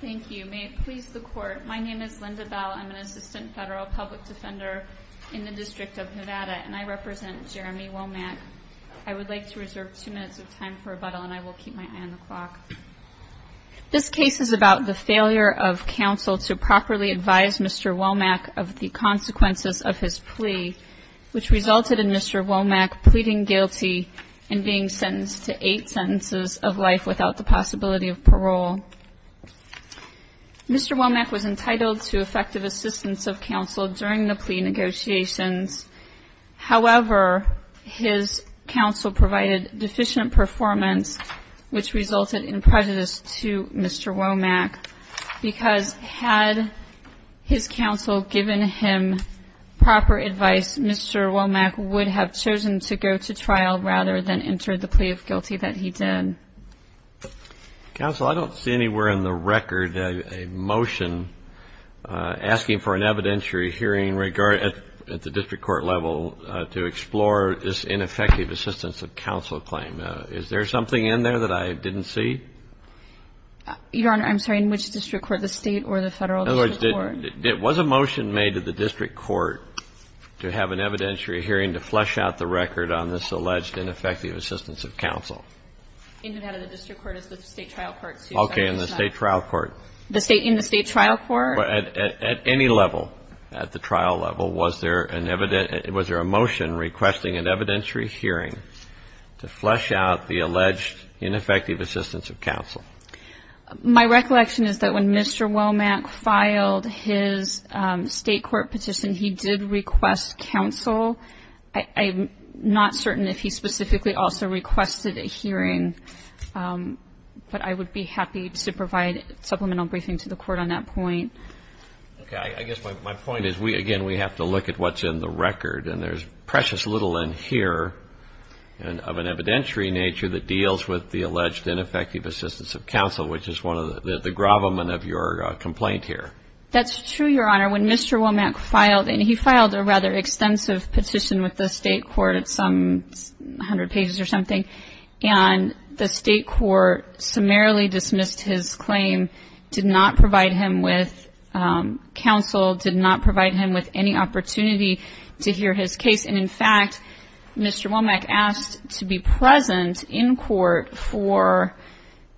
Thank you. May it please the Court. My name is Linda Bell. I'm an Assistant Federal Public Defender in the District of Nevada, and I represent Jeremy Womack. I would like to reserve two minutes of time for rebuttal, and I will keep my eye on the clock. This case is about the failure of counsel to properly advise Mr. Womack of the consequences of his plea, which resulted in Mr. Womack pleading guilty and being sentenced to eight sentences of life without the possibility of parole. Mr. Womack was entitled to effective assistance of counsel during the plea negotiations. However, his counsel provided deficient performance, which resulted in prejudice to Mr. Womack, because had his counsel given him proper advice, Mr. Womack would have chosen to go to trial rather than enter the plea of guilty that he did. Counsel, I don't see anywhere in the record a motion asking for an evidentiary hearing at the district court level to explore this ineffective assistance of counsel claim. Is there something in there that I didn't see? Your Honor, I'm sorry. In which district court, the State or the Federal District Court? In other words, was a motion made to the District Court to have an evidentiary hearing to flesh out the record on this alleged ineffective assistance of counsel? In Nevada, the District Court is the State trial court. Okay. In the State trial court. In the State trial court? At any level, at the trial level, was there a motion requesting an evidentiary hearing to flesh out the alleged ineffective assistance of counsel? My recollection is that when Mr. Womack filed his State court petition, he did request counsel. I'm not certain if he specifically also requested a hearing, but I would be happy to provide supplemental briefing to the Court on that point. Okay. I guess my point is, again, we have to look at what's in the record. And there's precious little in here of an evidentiary nature that deals with the alleged ineffective assistance of counsel, which is one of the gravamen of your complaint here. That's true, Your Honor. When Mr. Womack filed, and he filed a rather extensive petition with the State court at some hundred pages or something, and the State court summarily dismissed his claim, did not provide him with counsel, did not provide him with any opportunity to hear his case. And, in fact, Mr. Womack asked to be present in court for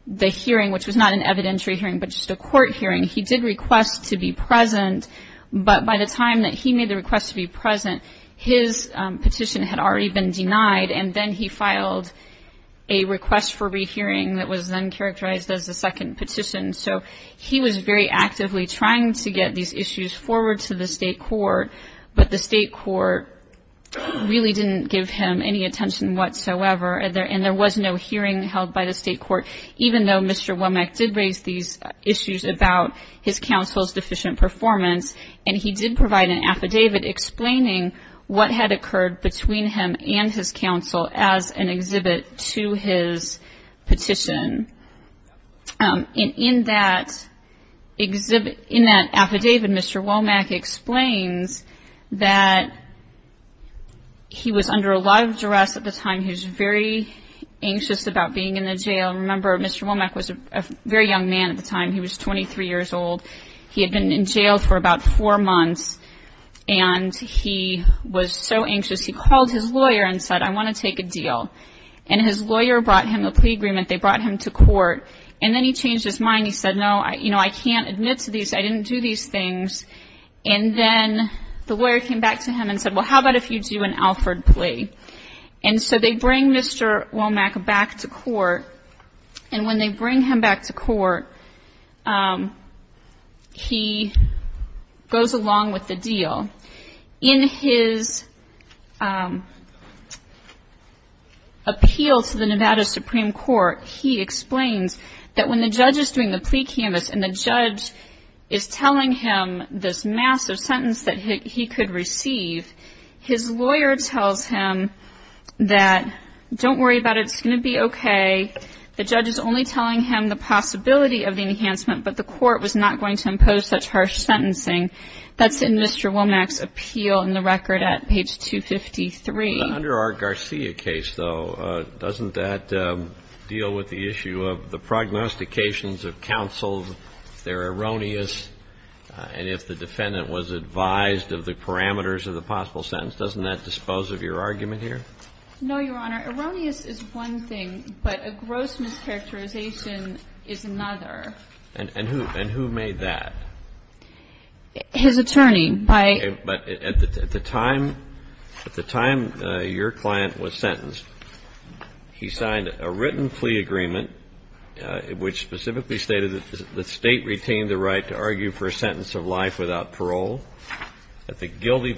the hearing, which was not an evidentiary hearing, but just a court hearing. He did request to be present, but by the time that he made the request to be present, his petition had already been denied, and then he filed a request for rehearing that was then characterized as a second petition. So he was very actively trying to get these issues forward to the State court, but the State court really didn't give him any attention whatsoever, and there was no hearing held by the State court, even though Mr. Womack did raise these issues about his counsel's deficient performance, and he did provide an affidavit explaining what had occurred between him and his counsel as an exhibit to his petition. And in that affidavit, Mr. Womack explains that he was under a lot of duress at the time. He was very anxious about being in the jail. Remember, Mr. Womack was a very young man at the time. He was 23 years old. He had been in jail for about four months, and he was so anxious, he called his lawyer and said, I want to take a deal, and his lawyer brought him a plea agreement. They brought him to court, and then he changed his mind. He said, no, you know, I can't admit to these. I didn't do these things, and then the lawyer came back to him and said, well, how about if you do an Alford plea? And so they bring Mr. Womack back to court, and when they bring him back to court, he goes along with the deal. In his appeal to the Nevada Supreme Court, he explains that when the judge is doing the plea canvas and the judge is telling him this massive sentence that he could receive, his lawyer tells him that don't worry about it, it's going to be okay. The judge is only telling him the possibility of the enhancement, but the court was not going to impose such harsh sentencing. That's in Mr. Womack's appeal in the record at page 253. But under our Garcia case, though, doesn't that deal with the issue of the prognostications of counsel, if they're erroneous, and if the defendant was advised of the parameters of the possible sentence? Doesn't that dispose of your argument here? No, Your Honor. Erroneous is one thing, but a gross mischaracterization is another. And who made that? His attorney. Okay. But at the time your client was sentenced, he signed a written plea agreement, which specifically stated that the State retained the right to argue for a sentence of life without parole. At the guilty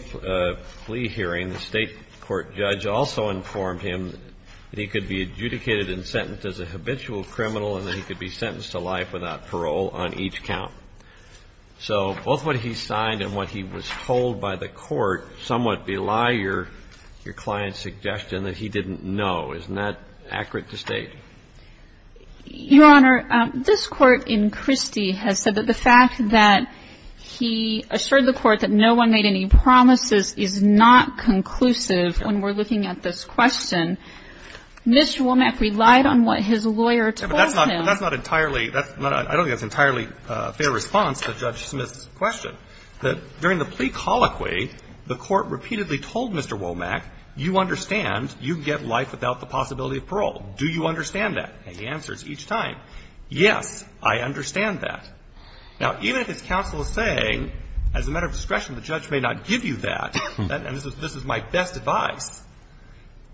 plea hearing, the State court judge also informed him that he could be adjudicated and sentenced as a habitual criminal and that he could be sentenced to life without parole on each count. So both what he signed and what he was told by the court somewhat belie your client's suggestion that he didn't know. Isn't that accurate to state? Your Honor, this Court in Christie has said that the fact that he assured the Court that no one made any promises is not conclusive when we're looking at this question. Mr. Womack relied on what his lawyer told him. But that's not entirely – I don't think that's entirely a fair response to Judge Smith's question. During the plea colloquy, the Court repeatedly told Mr. Womack, you understand you get life without the possibility of parole. Do you understand that? And he answers each time, yes, I understand that. Now, even if his counsel is saying, as a matter of discretion, the judge may not give you that, and this is my best advice,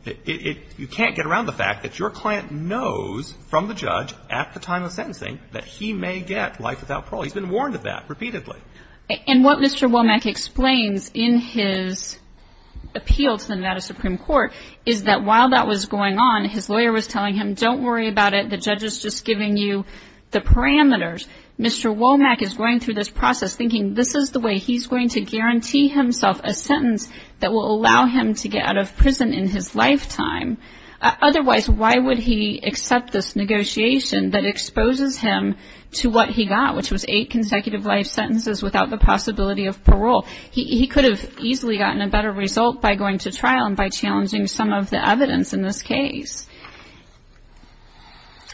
you can't get around the fact that your client knows from the judge at the time of sentencing that he may get life without parole. He's been warned of that repeatedly. And what Mr. Womack explains in his appeal to the Nevada Supreme Court is that while that was going on, his lawyer was telling him, don't worry about it. The judge is just giving you the parameters. Mr. Womack is going through this process thinking this is the way he's going to guarantee himself a sentence that will allow him to get out of prison in his lifetime. Otherwise, why would he accept this negotiation that exposes him to what he got, which was eight consecutive life sentences without the possibility of parole? He could have easily gotten a better result by going to trial and by challenging some of the evidence in this case.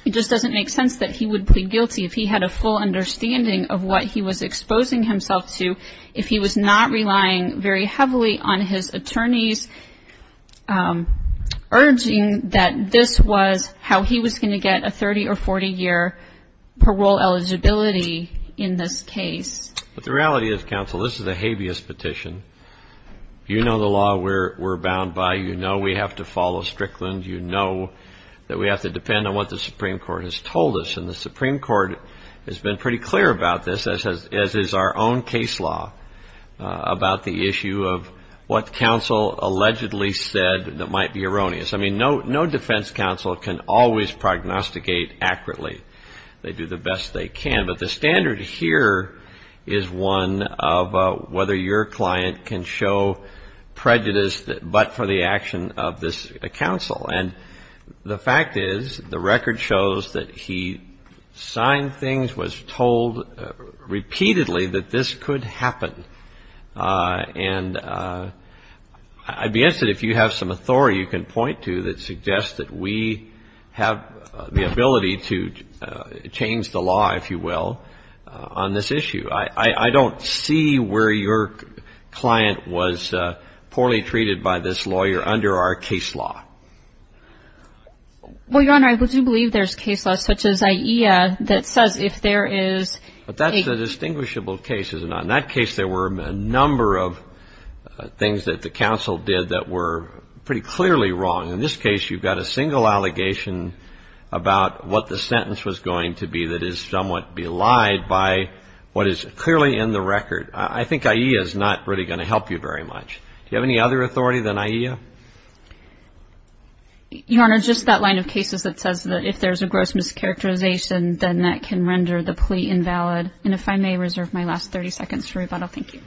It just doesn't make sense that he would plead guilty if he had a full understanding of what he was exposing himself to if he was not relying very heavily on his attorney's urging that this was how he was going to get a 30- or 40-year parole eligibility in this case. But the reality is, counsel, this is a habeas petition. You know the law we're bound by. You know we have to follow Strickland. You know that we have to depend on what the Supreme Court has told us. And the Supreme Court has been pretty clear about this, as is our own case law, about the issue of what counsel allegedly said that might be erroneous. I mean, no defense counsel can always prognosticate accurately. They do the best they can. But the standard here is one of whether your client can show prejudice but for the action of this counsel. And the fact is, the record shows that he signed things, was told repeatedly that this could happen. And I'd be interested if you have some authority you can point to that suggests that we have the ability to change the law, if you will, on this issue. I don't see where your client was poorly treated by this lawyer under our case law. Well, Your Honor, I do believe there's case laws such as IEA that says if there is a But that's a distinguishable case, isn't it? In that case, there were a number of things that the counsel did that were pretty clearly wrong. In this case, you've got a single allegation about what the sentence was going to be that is somewhat belied by what is clearly in the record. I think IEA is not really going to help you very much. Do you have any other authority than IEA? Your Honor, just that line of cases that says that if there's a gross mischaracterization, then that can render the plea invalid. And if I may reserve my last 30 seconds for rebuttal, thank you.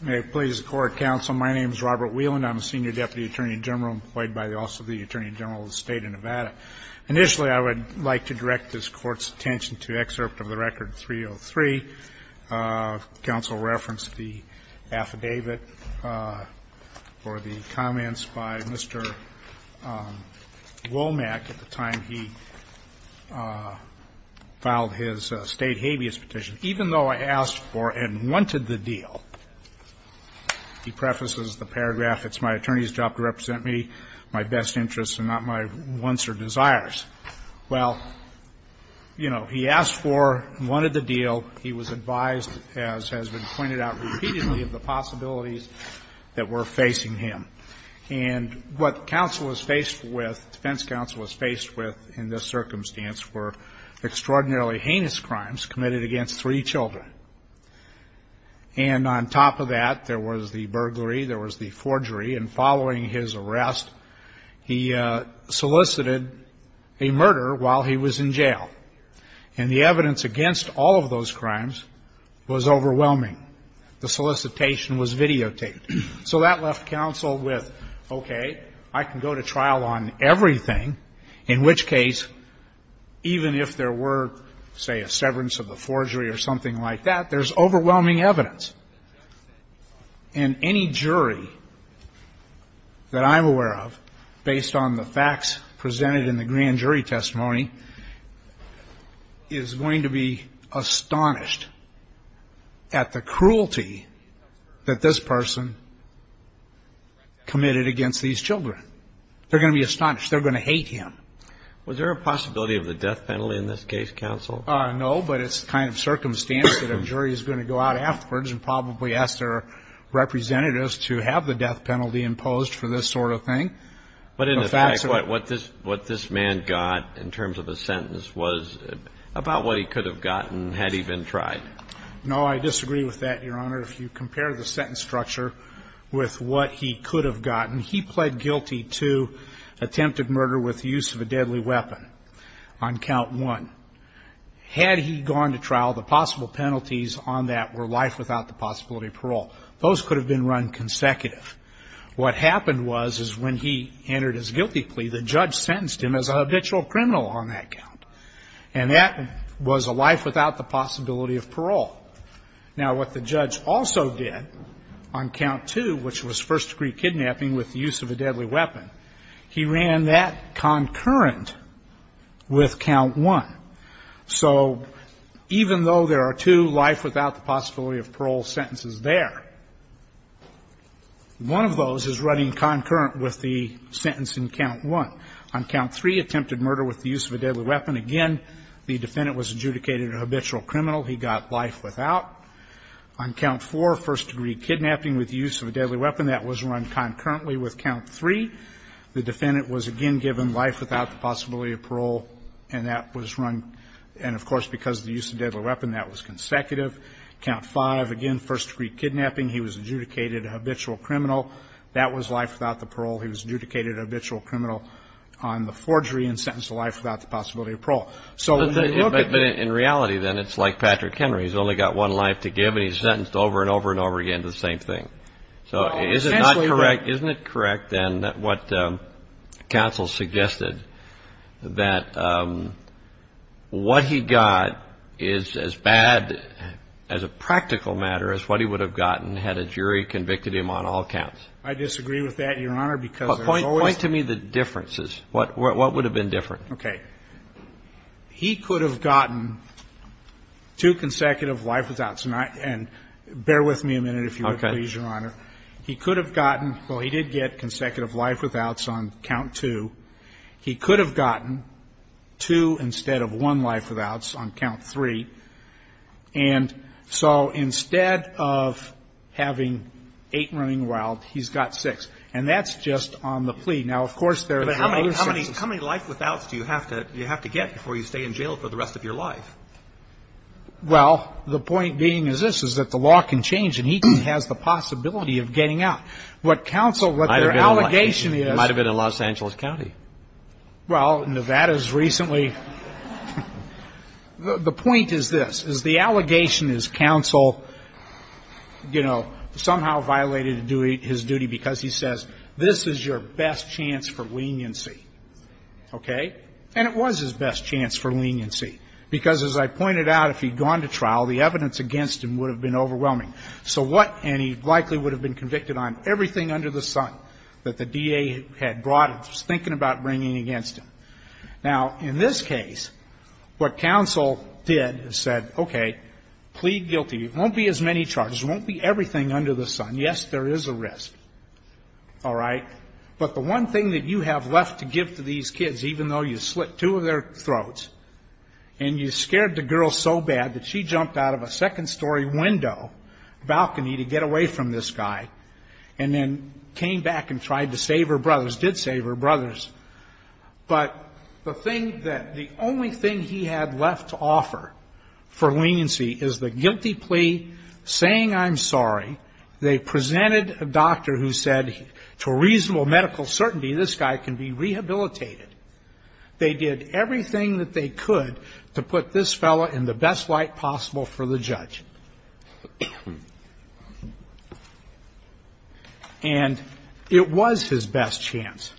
May it please the Court, counsel. My name is Robert Whelan. I'm a senior deputy attorney general employed by the Office of the Attorney General of the State of Nevada. Initially, I would like to direct this Court's attention to excerpt of the record 303. Counsel referenced the affidavit or the comments by Mr. Womack at the time he filed his State habeas petition. Even though I asked for and wanted the deal, he prefaces the paragraph, it's my attorney's job to represent me, my best interests and not my wants or desires. Well, you know, he asked for and wanted the deal. He was advised, as has been pointed out repeatedly, of the possibilities that were facing him. And what counsel was faced with, defense counsel was faced with in this circumstance were extraordinarily heinous crimes committed against three children. And on top of that, there was the burglary, there was the forgery. And following his arrest, he solicited a murder while he was in jail. And the evidence against all of those crimes was overwhelming. The solicitation was videotaped. So that left counsel with, okay, I can go to trial on everything, in which case, even if there were, say, a severance of the forgery or something like that, there's overwhelming evidence. And any jury that I'm aware of, based on the facts presented in the grand jury testimony, is going to be astonished at the cruelty that this person committed against these children. They're going to be astonished. They're going to hate him. Was there a possibility of the death penalty in this case, counsel? No, but it's the kind of circumstance that a jury is going to go out afterwards and probably ask their representatives to have the death penalty imposed for this sort of thing. But in effect, what this man got in terms of the sentence was about what he could have gotten had he been tried. No, I disagree with that, Your Honor. If you compare the sentence structure with what he could have gotten, he pled guilty attempted murder with the use of a deadly weapon on count one. Had he gone to trial, the possible penalties on that were life without the possibility of parole. Those could have been run consecutive. What happened was is when he entered his guilty plea, the judge sentenced him as a habitual criminal on that count. And that was a life without the possibility of parole. Now, what the judge also did on count two, which was first-degree kidnapping with the use of a deadly weapon, he ran that concurrent with count one. So even though there are two life without the possibility of parole sentences there, one of those is running concurrent with the sentence in count one. On count three, attempted murder with the use of a deadly weapon. Again, the defendant was adjudicated a habitual criminal. He got life without. On count four, first-degree kidnapping with the use of a deadly weapon. That was run concurrently with count three. The defendant was, again, given life without the possibility of parole, and that was run. And, of course, because of the use of a deadly weapon, that was consecutive. Count five, again, first-degree kidnapping. He was adjudicated a habitual criminal. That was life without the parole. He was adjudicated a habitual criminal on the forgery and sentenced to life without the possibility of parole. So look at the ---- But in reality, then, it's like Patrick Henry. He's only got one life to give, and he's sentenced over and over and over again to the same thing. So is it not correct? Isn't it correct, then, what counsel suggested, that what he got is as bad as a practical matter as what he would have gotten had a jury convicted him on all counts? I disagree with that, Your Honor, because there's always ---- Point to me the differences. What would have been different? Okay. He could have gotten two consecutive life withouts. And bear with me a minute, if you would, please, Your Honor. Okay. He could have gotten ---- well, he did get consecutive life withouts on count two. He could have gotten two instead of one life withouts on count three. And so instead of having eight running wild, he's got six. And that's just on the plea. Now, of course, there are other six. But how many life withouts do you have to get before you stay in jail for the rest of your life? Well, the point being is this, is that the law can change and he has the possibility of getting out. What counsel, what their allegation is ---- Might have been in Los Angeles County. Well, Nevada's recently ---- The point is this, is the allegation is counsel, you know, somehow violated his duty because he says, this is your best chance for leniency. Okay? And it was his best chance for leniency because, as I pointed out, if he'd gone to trial, the evidence against him would have been overwhelming. So what? And he likely would have been convicted on everything under the sun that the DA had brought and was thinking about bringing against him. Now, in this case, what counsel did is said, okay, plead guilty. It won't be as many charges. It won't be everything under the sun. Yes, there is a risk. All right? But the one thing that you have left to give to these kids, even though you slit two of their throats and you scared the girl so bad that she jumped out of a second-story window balcony to get away from this guy and then came back and tried to save her brothers, did save her brothers, but the thing that the only thing he had left to offer for leniency is the guilty plea, saying I'm sorry. They presented a doctor who said to a reasonable medical certainty, this guy can be rehabilitated. They did everything that they could to put this fellow in the best light possible for the judge. And it was his best chance.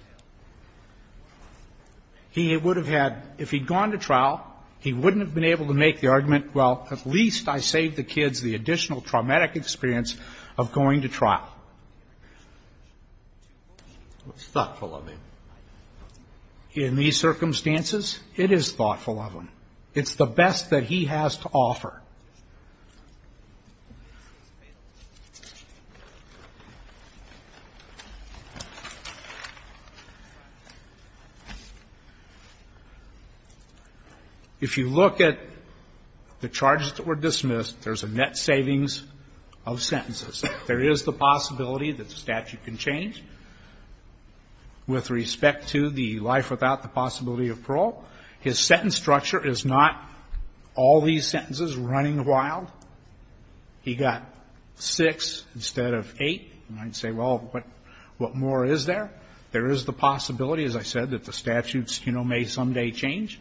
He would have had, if he'd gone to trial, he wouldn't have been able to make the argument, well, at least I saved the kids the additional traumatic experience of going to trial. Thoughtful of him. In these circumstances, it is thoughtful of him. It's the best that he has to offer. If you look at the charges that were dismissed, there's a net savings of sentences. There is the possibility that the statute can change with respect to the life without the possibility of parole. His sentence structure is not all these sentences running wild. He got six instead of eight. You might say, well, what more is there? There is the possibility, as I said, that the statutes, you know, may someday change.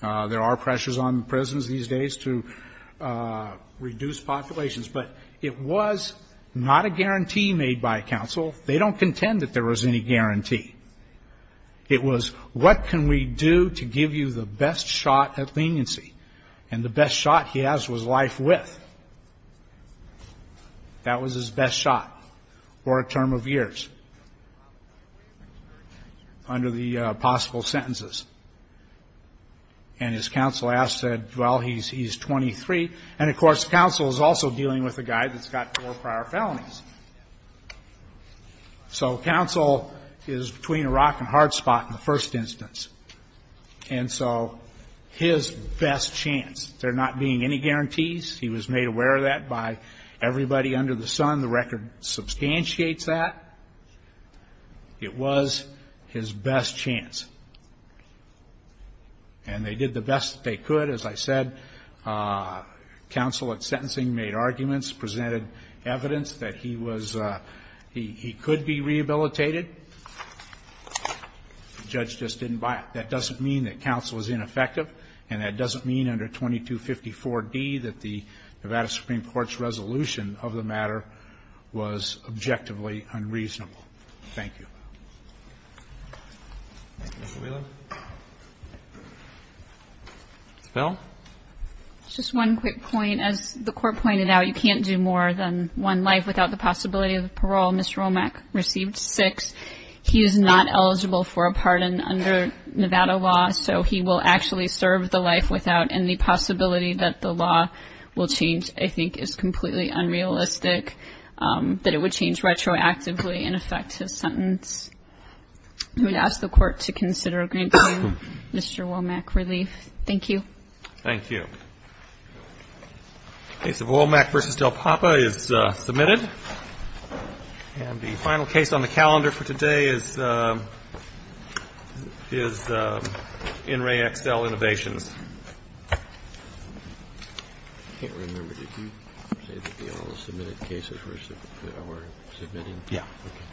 There are pressures on prisons these days to reduce populations. But it was not a guarantee made by counsel. They don't contend that there was any guarantee. It was, what can we do to give you the best shot at leniency? And the best shot he has was life with. That was his best shot for a term of years under the possible sentences. And his counsel asked, said, well, he's 23. And, of course, counsel is also dealing with a guy that's got four prior felonies. So counsel is between a rock and a hard spot in the first instance. And so his best chance, there not being any guarantees, he was made aware of that by everybody under the sun. The record substantiates that. It was his best chance. And they did the best that they could. As I said, counsel at sentencing made arguments, presented evidence that he was, he could be rehabilitated. The judge just didn't buy it. That doesn't mean that counsel is ineffective. And that doesn't mean under 2254D that the Nevada Supreme Court's resolution of the matter was objectively unreasonable. Thank you. Thank you, Mr. Wheeler. Ms. Bell? Just one quick point. As the court pointed out, you can't do more than one life without the possibility of parole. Mr. Romack received six. He is not eligible for a pardon under Nevada law. So he will actually serve the life without any possibility that the law will change, I think is completely unrealistic, that it would change retroactively and affect his sentence. I would ask the court to consider granting Mr. Romack relief. Thank you. Thank you. The case of Romack v. Del Papa is submitted. And the final case on the calendar for today is NREA XL Innovations. I can't remember. Did you say that they all submitted cases versus our submitting? Yeah. Okay.